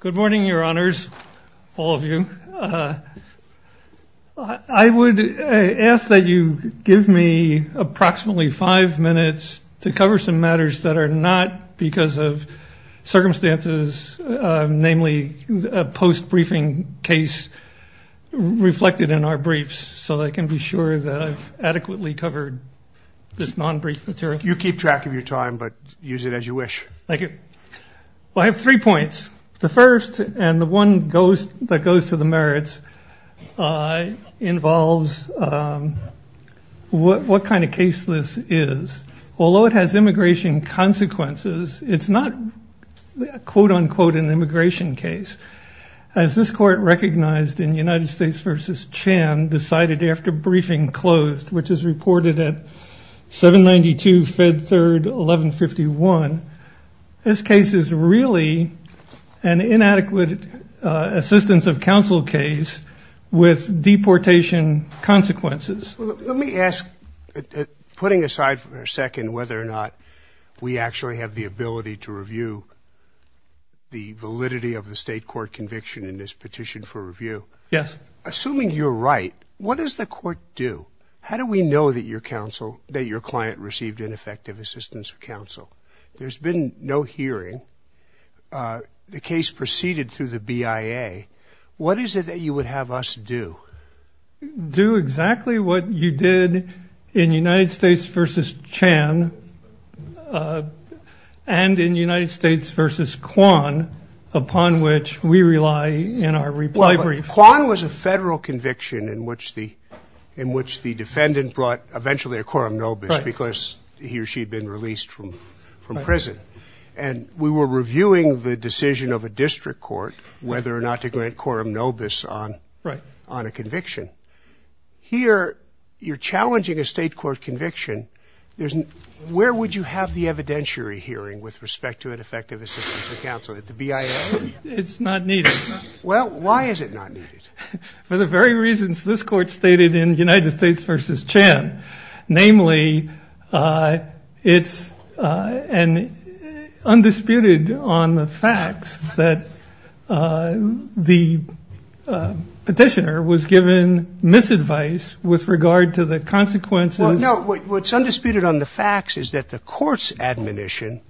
Good morning, your honors, all of you. I would ask that you give me approximately five minutes to cover some matters that are not, because of circumstances, namely a post-briefing case reflected in our briefs, so that I can be sure that I've adequately covered this non-brief material. You keep track of your time, but use it as you wish. Thank you. Well, I have three points. The first, and the one that goes to the merits, involves what kind of case this is. Although it has immigration consequences, it's not quote-unquote an immigration case. As this court recognized in United States v. Chan decided after briefing closed, which is reported at 792 Fed Third 1151, this case is really an inadequate assistance of counsel case with deportation consequences. Let me ask, putting aside for a second whether or not we actually have the ability to review the validity of the state court conviction in this petition for review. Yes. Assuming you're right, what does the court do? How do we know that your client received an effective assistance of counsel? There's been no hearing. The case proceeded through the BIA. What is it that you would have us do? Do exactly what you did in United States v. Chan and in United States v. Kwan, upon which we rely in our eventually a coram nobis because he or she had been released from prison. And we were reviewing the decision of a district court whether or not to grant coram nobis on a conviction. Here you're challenging a state court conviction. Where would you have the evidentiary hearing with respect to an effective assistance of counsel? At the BIA? It's not needed. Well, why is it not needed? For the very reasons this court stated in United States v. Chan. Namely, it's undisputed on the facts that the petitioner was given misadvice with regard to the consequences. No. What's undisputed on the facts is that the court's admonition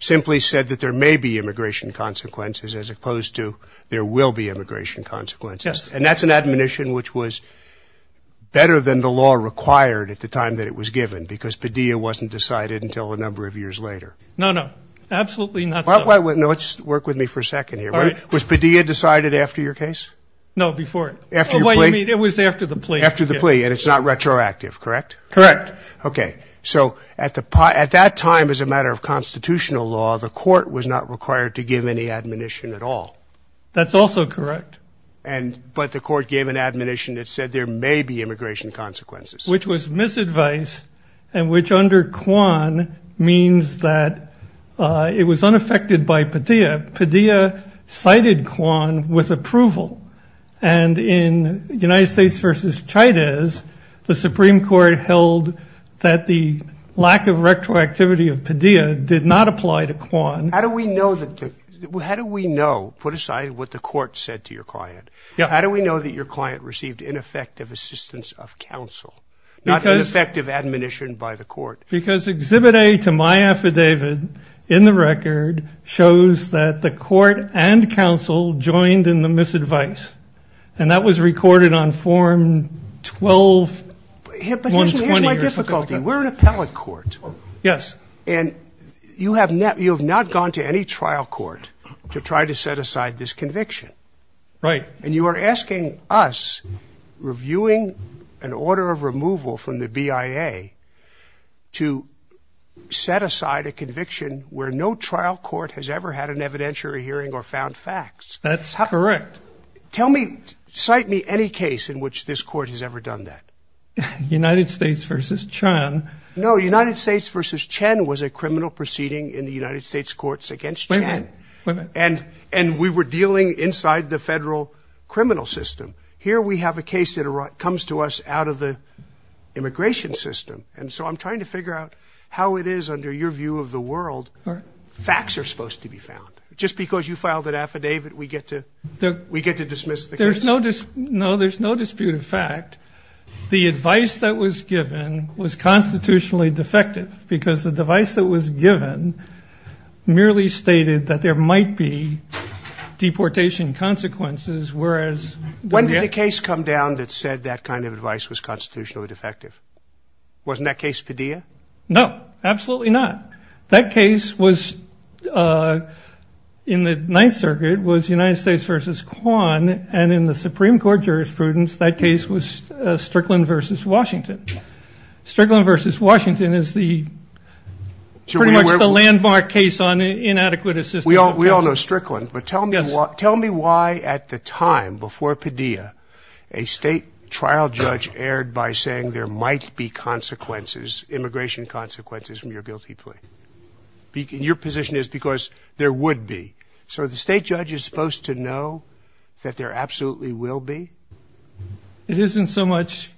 simply said that there may be immigration consequences as opposed to there will be immigration consequences. Yes. And that's an admonition which was better than the law required at the time that it was given because Padilla wasn't decided until a number of years later. No, no. Absolutely not so. Let's work with me for a second here. All right. Was Padilla decided after your case? No, before it. After your plea? It was after the plea. After the plea. And it's not retroactive, correct? Correct. Okay. So at that time as a matter of constitutional law, the court was not required to give any admonition at all. That's also correct. But the court gave an admonition that said there may be immigration consequences. Which was misadvice and which under Kwan means that it was unaffected by Padilla. Padilla cited Kwan with approval. And in United States v. Chavez, the Supreme Court held that the admonition did not apply to Kwan. How do we know that the, how do we know, put aside what the court said to your client, how do we know that your client received ineffective assistance of counsel, not ineffective admonition by the court? Because Exhibit A to my affidavit in the record shows that the court and counsel joined in the misadvice. And that was recorded on Form 12-120. Here's my difficulty. We're an appellate court. Yes. And you have not gone to any trial court to try to set aside this conviction. Right. And you are asking us, reviewing an order of removal from the BIA, to set aside a conviction where no trial court has ever had an evidentiary hearing or found facts. That's correct. Tell me, cite me any case in which this court has ever done that. United States v. Chen. No, United States v. Chen was a criminal proceeding in the United States courts against Chen. And we were dealing inside the federal criminal system. Here we have a case that comes to us out of the immigration system. And so I'm trying to figure out how it is, under your view of the world, facts are supposed to be found. Just because you filed an affidavit, we get to dismiss the case? No, there's no dispute of fact. The advice that was given was constitutionally defective, because the device that was given merely stated that there might be deportation consequences, whereas... When did the case come down that said that kind of advice was constitutionally defective? Wasn't that case Padilla? No, absolutely not. That case was, in the Ninth Circuit, was United States v. Kwan, and in the Supreme Court jurisprudence, that case was Strickland v. Washington. Strickland v. Washington is the pretty much the landmark case on inadequate assistance... We all know Strickland, but tell me why at the time, before Padilla, a state trial judge erred by saying there might be consequences, immigration consequences from your guilty plea? Your position is because there would be. So the state judge is supposed to know that there absolutely will be? It isn't so much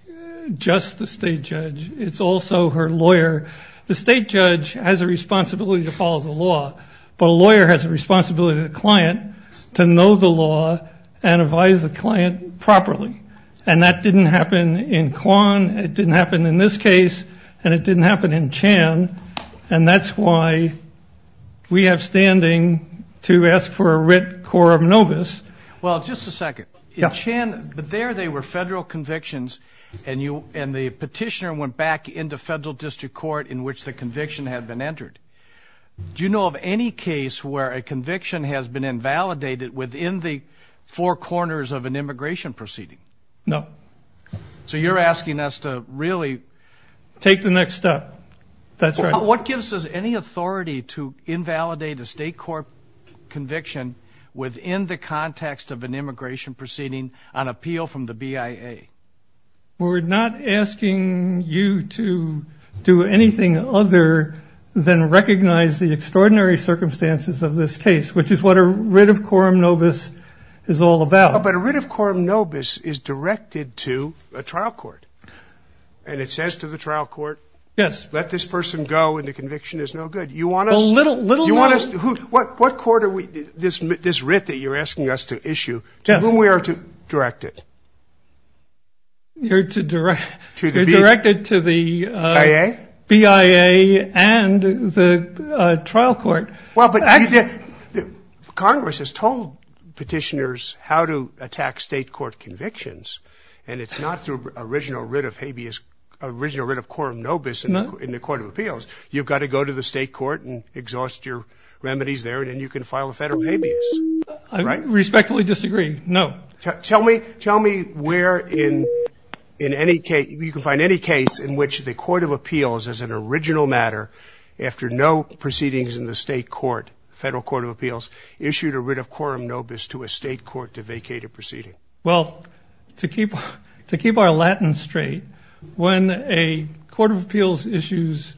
just the state judge, it's also her lawyer. The state judge has a responsibility to follow the law, but a lawyer has a responsibility to the client to know the law and advise the client. And in this case, and it didn't happen in Chan, and that's why we have standing to ask for a writ quorum nobis. Well, just a second. In Chan, there they were federal convictions, and the petitioner went back into federal district court in which the conviction had been entered. Do you know of any case where a conviction has been invalidated within the four corners of an immigration proceeding? No. So you're asking us to really... Take the next step. That's right. What gives us any authority to invalidate a state court conviction within the context of an immigration proceeding on appeal from the BIA? We're not asking you to do anything other than recognize the extraordinary circumstances of this case, which is what a writ of quorum nobis is all about. But a writ of quorum nobis is directed to a trial court, and it says to the trial court, let this person go, and the conviction is no good. You want us to... What court are we... This writ that you're asking us to issue, to whom we are to direct it? You're to direct it to the BIA and the trial court. Well, but Congress has told petitioners how to attack state court convictions, and it's not through original writ of habeas, original writ of quorum nobis in the court of appeals. You've got to go to the state court and exhaust your remedies there, and then you can file a federal habeas, right? I respectfully disagree. No. Tell me where in any case... You can find any case in which the court of appeals, as an original matter, after no proceedings in the state court, federal court of appeals, issued a writ of quorum nobis to a state court to vacate a proceeding. Well, to keep our Latin straight, when a court of appeals issues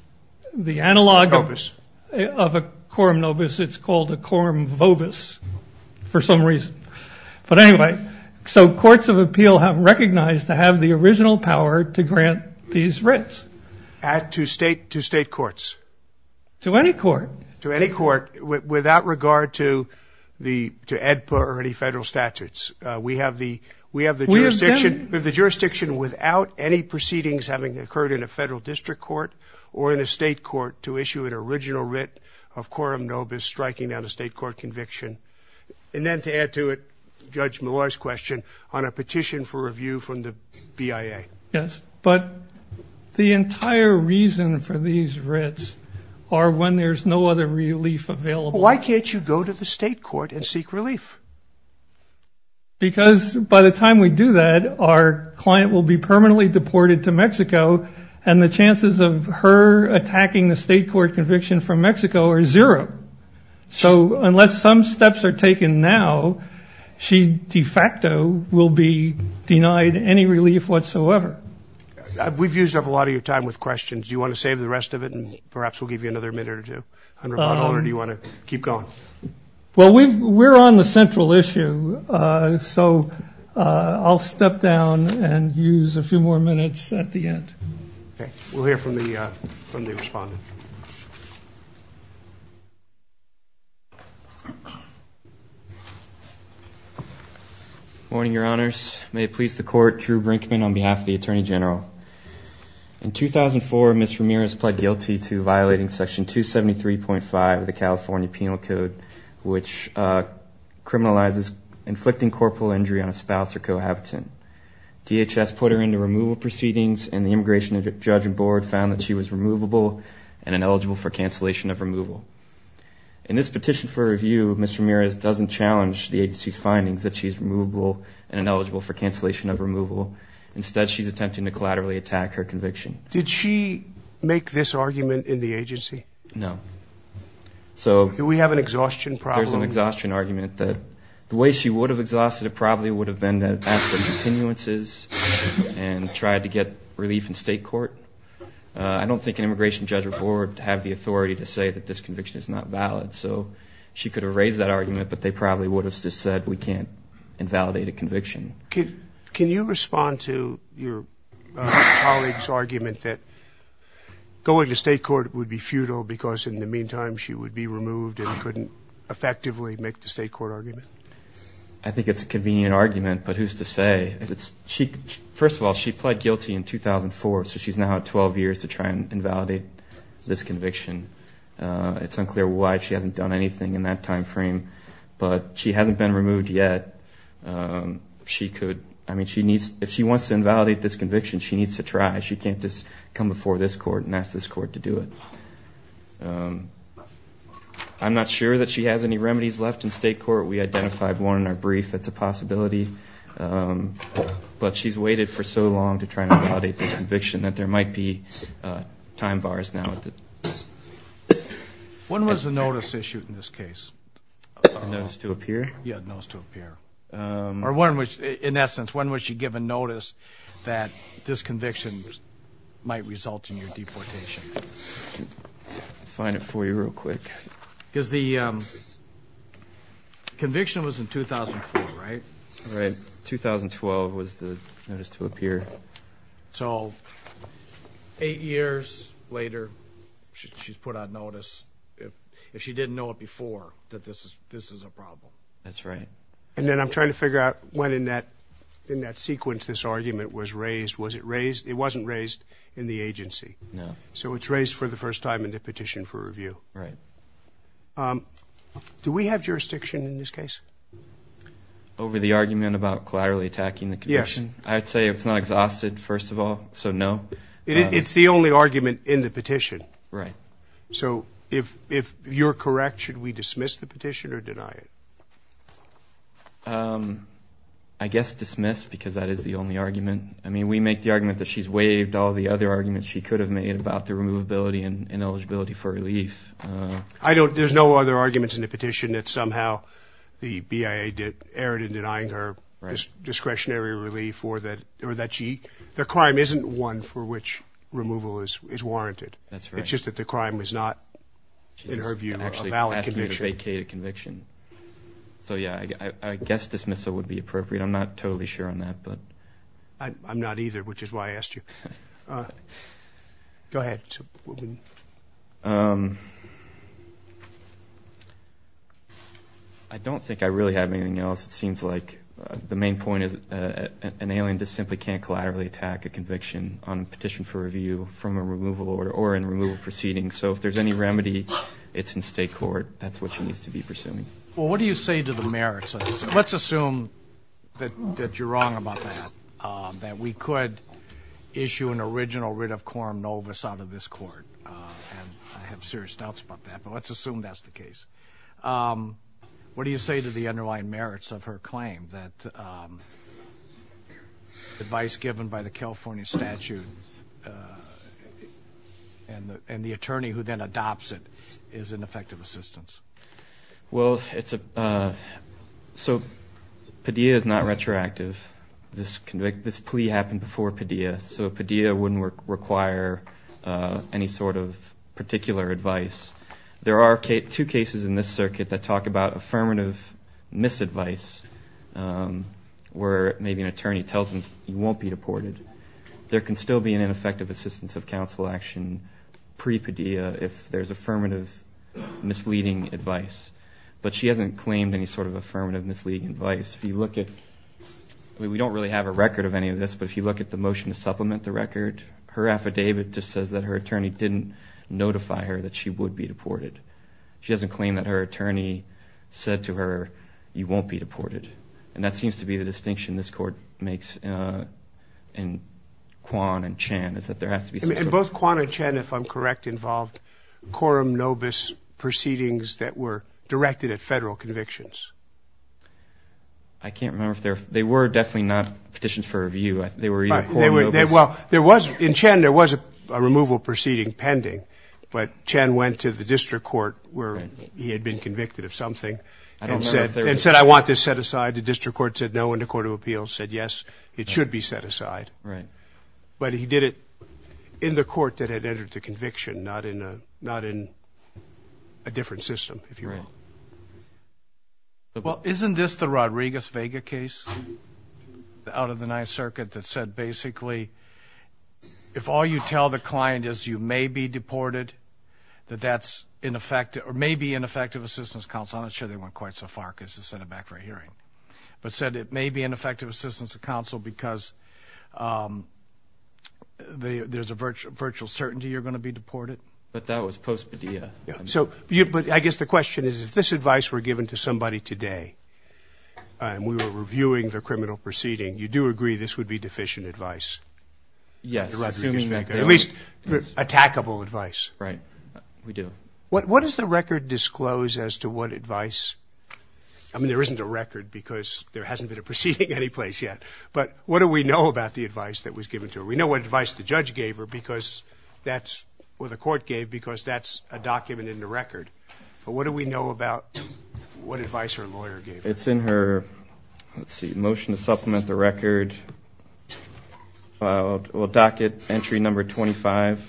the analog of a quorum nobis, it's called a quorum vobis for some reason. But anyway, so courts of appeal have recognized to have the original power to grant these writs. To state courts. To any court. To any court, without regard to EDPA or any federal statutes. We have the jurisdiction without any proceedings having occurred in a federal district court or in a state court to issue an original writ of quorum nobis striking down a state court conviction. And then to add to it, Judge Millar's question, on a petition for review from the state court, the only time we have a petition for these writs are when there's no other relief available. Why can't you go to the state court and seek relief? Because by the time we do that, our client will be permanently deported to Mexico, and the chances of her attacking the state court conviction from Mexico are zero. So unless some steps are taken, I don't know. Do you want to save the rest of it and perhaps we'll give you another minute or two? Or do you want to keep going? Well, we're on the central issue, so I'll step down and use a few more minutes at the end. Okay. We'll hear from the respondent. Good morning, Your Honors. May it please the court, Drew Brinkman on behalf of the Attorney General. In 2004, Ms. Ramirez pled guilty to violating Section 273.5 of the California Penal Code, which criminalizes inflicting corporal injury on a spouse or cohabitant. DHS put her into removal proceedings, and the immigration judge and board found that she was removable and ineligible for cancellation of removal. In this petition for review, Ms. Ramirez doesn't challenge the agency's findings that she's removable and ineligible for cancellation of removal. Instead, she's attempting to collaterally attack her conviction. Did she make this argument in the agency? No. Do we have an exhaustion problem? There's an exhaustion argument that the way she would have exhausted it probably would have been to ask for continuances and try to get relief in state court. I don't think an immigration judge or board have the authority to say that this conviction is not valid, so she could have raised that argument, but they probably would have just said we can't invalidate a conviction. Can you respond to your colleague's argument that going to state court would be futile because in the meantime she would be removed and couldn't effectively make the state court argument? I think it's a convenient argument, but who's to say? First of all, she pled guilty in 2004, so she's now at 12 years to try and invalidate this conviction. It's unclear why she hasn't done anything in that time frame, but she hasn't been removed yet. If she wants to invalidate this conviction, she needs to try. She can't just come before this court and ask this court to do it. I'm not sure that she has any remedies left in state court. We identified one in our brief that's a possibility, but she's waited for so long to try and invalidate this conviction that there might be time bars now. When was the notice issued in this case? A notice to appear? Yeah, a notice to appear. In essence, when was she given notice that this conviction might result in your deportation? I'll find it for you real quick. The conviction was in 2004, right? 2012 was the notice to appear. Eight years later, she's put on notice. If she didn't know it before, that this is a problem. That's right. I'm trying to figure out when in that sequence this argument was raised. It wasn't raised in the agency. No. So it's raised for the first time in the petition for review. Right. Do we have jurisdiction in this case? Over the argument about collaterally attacking the conviction? Yes. I'd say it's not exhausted, first of all, so no. It's the only argument in the petition. Right. So if you're correct, should we dismiss the petition or deny it? I guess dismiss because that is the only argument. I mean, we make the argument that she's waived all the other arguments she could have made about the removability and ineligibility for relief. There's no other arguments in the petition that somehow the BIA erred in denying her discretionary relief or that the crime isn't one for which removal is warranted. That's right. It's just that the crime is not, in her view, a valid conviction. She's actually asking you to vacate a conviction. So yeah, I guess dismissal would be appropriate. I'm not sure why I asked you. Go ahead. I don't think I really have anything else. It seems like the main point is an alien just simply can't collaterally attack a conviction on a petition for review from a removal order or a removal proceeding. So if there's any remedy, it's in state court. That's what she needs to be pursuing. Well, what do you say to the merits? Let's assume that you're wrong about that, that we could issue an original writ of quorum novus out of this court. And I have serious doubts about that, but let's assume that's the case. What do you say to the underlying merits of her claim that advice given by the California statute and the attorney who then adopts it is an effective assistance? Well, it's a, so the Padilla is not retroactive. This plea happened before Padilla, so Padilla wouldn't require any sort of particular advice. There are two cases in this circuit that talk about affirmative misadvice, where maybe an attorney tells them you won't be deported. There can still be an ineffective assistance of counsel action pre-Padilla if there's affirmative misleading advice. But she hasn't claimed any sort of affirmative misleading advice. If you look at, I mean, we don't really have a record of any of this, but if you look at the motion to supplement the record, her affidavit just says that her attorney didn't notify her that she would be deported. She hasn't claimed that her attorney said to her, you won't be deported. And that seems to be the distinction this court makes in Quan and Chan, is that there has to be some sort of... And that's a question that's directed at Federal convictions. I can't remember if there, they were definitely not petitions for review. They were either court movements. Well, there was, in Chan there was a removal proceeding pending, but Chan went to the District Court where he had been convicted of something and said, I want this set aside. The District Court said no, and the Court of Appeals said yes, it should be set aside. Right. But he did it in the court that had been set aside. Well, isn't this the Rodriguez-Vega case out of the Ninth Circuit that said basically, if all you tell the client is you may be deported, that that's ineffective or may be ineffective assistance counsel. I'm not sure they went quite so far as to send it back for a hearing, but said it may be ineffective assistance of counsel because there's a virtual certainty you're going to be deported. But that was post-Padilla. So, but I guess the question is, if this advice were given to somebody today and we were reviewing their criminal proceeding, you do agree this would be deficient advice? Yes. At least attackable advice. Right. We do. What does the record disclose as to what advice? I mean, there isn't a record because there hasn't been a proceeding anyplace yet, but what do we know about the advice that was given to her? We know what the court gave because that's a document in the record. But what do we know about what advice her lawyer gave her? It's in her, let's see, motion to supplement the record. Well, docket entry number 25.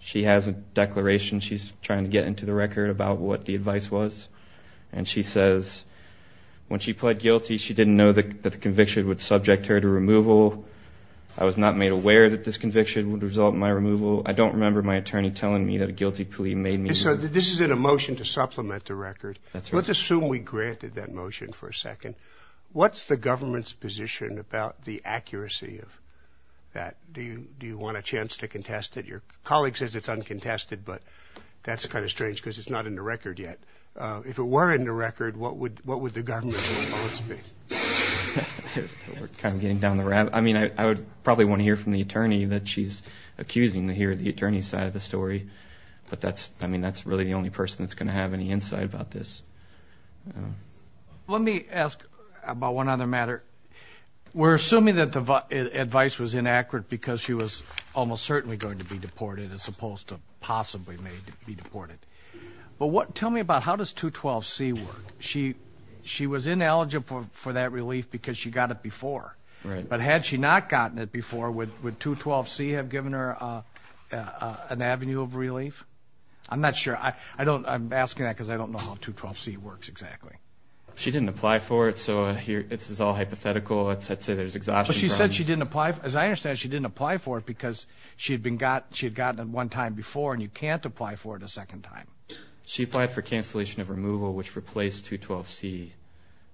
She has a declaration. She's trying to get into the record about what the advice was. And she says, when she pled guilty, she didn't know that the conviction would subject her to removal. I was not made aware that this conviction would result in my removal. I don't remember my attorney telling me that a guilty plea made me. So this is in a motion to supplement the record. Let's assume we granted that motion for a second. What's the government's position about the accuracy of that? Do you want a chance to contest it? Your colleague says it's uncontested, but that's kind of strange because it's not in the record yet. If it were in the record, what would the government's response be? We're kind of curious. We probably want to hear from the attorney that she's accusing to hear the attorney's side of the story. But that's, I mean, that's really the only person that's going to have any insight about this. Let me ask about one other matter. We're assuming that the advice was inaccurate because she was almost certainly going to be deported as opposed to possibly may be deported. But tell me about how does 212C work? She was ineligible for that relief because she got it before. But had she not gotten it before, would 212C have given her an avenue of relief? I'm not sure. I'm asking that because I don't know how 212C works exactly. She didn't apply for it. So this is all hypothetical. I'd say there's exhaustion. But she said she didn't apply. As I understand, she didn't apply for it because she had gotten it one time before and you can't apply for it a second time. She applied for cancellation of removal, which replaced 212C.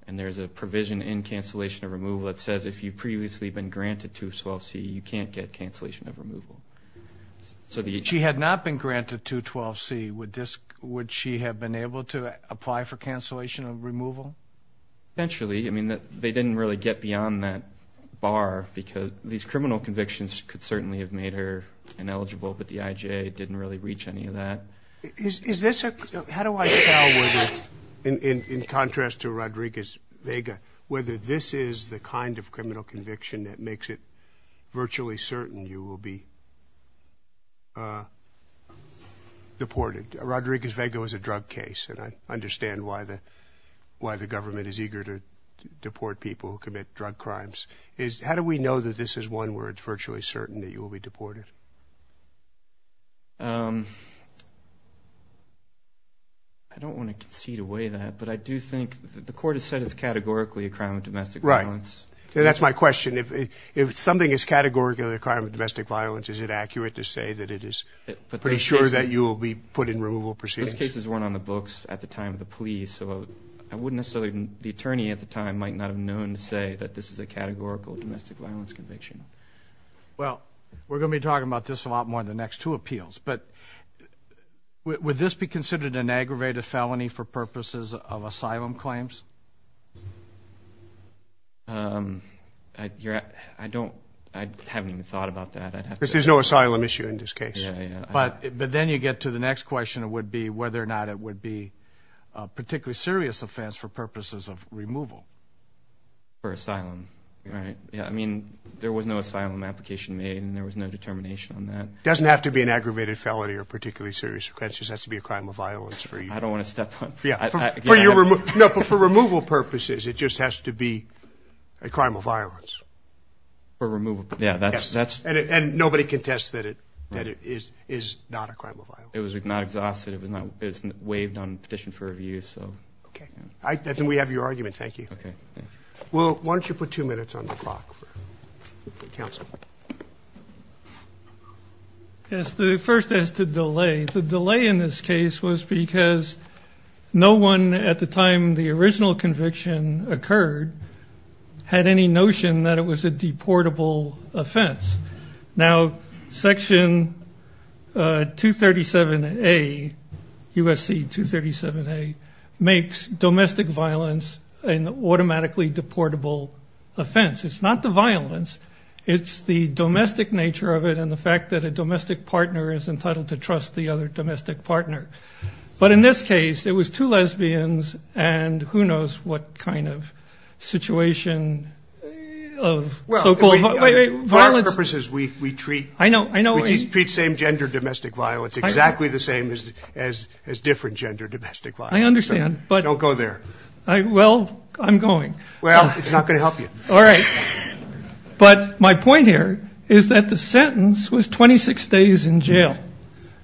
And there's a provision in cancellation of removal that says if you've previously been granted 212C, you can't get cancellation of removal. She had not been granted 212C. Would she have been able to apply for cancellation of removal? Potentially. I mean, they didn't really get beyond that bar because these criminal convictions could certainly have made her ineligible, but the IJ didn't really reach any of that. How do I tell whether, in contrast to Rodriguez-Vega, whether this is the kind of criminal conviction that makes it virtually certain you will be deported? Rodriguez-Vega was a drug case, and I understand why the government is eager to deport people who commit drug crimes. How do we know that this is one where it's virtually certain that you will be deported? I don't want to concede away that, but I do think the court has said it's categorically a crime of domestic violence. Right. That's my question. If something is categorically a crime of domestic violence, is it accurate to say that it is pretty sure that you will be put in removal proceedings? Those cases weren't on the books at the time of the plea, so I wouldn't necessarily, the attorney at the time might not have known to say that this is a categorical domestic violence conviction. I don't, I haven't even thought about that. Because there's no asylum issue in this case. But then you get to the next question of whether or not it would be a particularly serious offense for purposes of removal. For asylum, right? I mean, there was no asylum application made and there was no determination on that. It doesn't have to be an aggravated felony or particularly serious offense. It just has to be a crime of violence for you. I don't want to step on... For removal purposes, it just has to be a crime of violence. And nobody contests that it is not a crime of violence. It was not exhausted. It was not waived on petition for review. Okay. Then we have your argument. Thank you. Well, why don't you put two minutes on the clock for counsel? Yes, the first is to delay. The delay in this case was because no one at the time the original conviction occurred had any notion that it was a deportable offense. Now, Section 237A, USC 237A, makes domestic violence an organized offense. It's not the violence. It's the domestic nature of it and the fact that a domestic partner is entitled to trust the other domestic partner. But in this case, it was two lesbians and who knows what kind of situation of so-called violence... For our purposes, we treat... I know. It's exactly the same as different gender domestic violence. I understand. Don't go there. Well, I'm going. Well, it's not going to help you. All right. But my point here is that the sentence was 26 days in jail.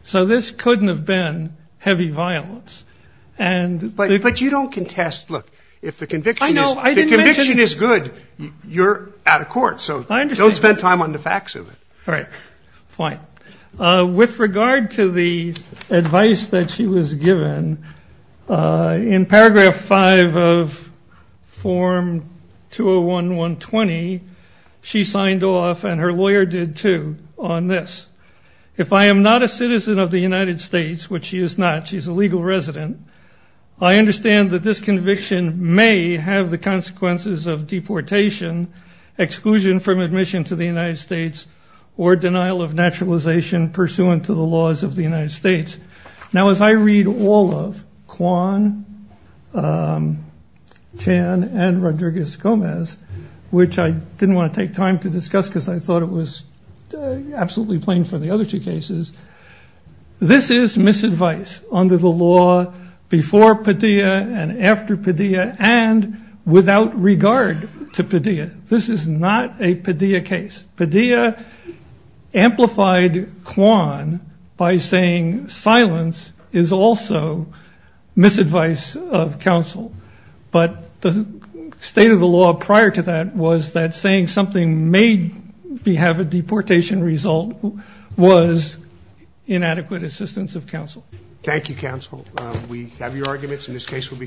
So this couldn't have been heavy violence. But you don't contest. Look, if the conviction is good, you're out of court. So don't spend time on the facts of it. All right. Fine. With regard to the advice that she was given, in Paragraph 5 of Form 201-1, she signed off, and her lawyer did, too, on this. If I am not a citizen of the United States, which she is not, she's a legal resident, I understand that this conviction may have the consequences of deportation, exclusion from admission to the United States, or denial of naturalization pursuant to the laws of the United States. Now, as I read all of Quan, Chan, and Rodriguez-Gomez, which I didn't want to take time to discuss because I thought it was absolutely plain for the other two cases, this is misadvice under the law before Padilla and after Padilla, and without regard to Padilla. This is not a Padilla case. Padilla amplified Quan by saying silence is also misadvice of counsel. But the state of the law prior to that was that saying something may have a deportation result was inadequate assistance of counsel. Thank you, counsel. We have your arguments, and this case will be submitted.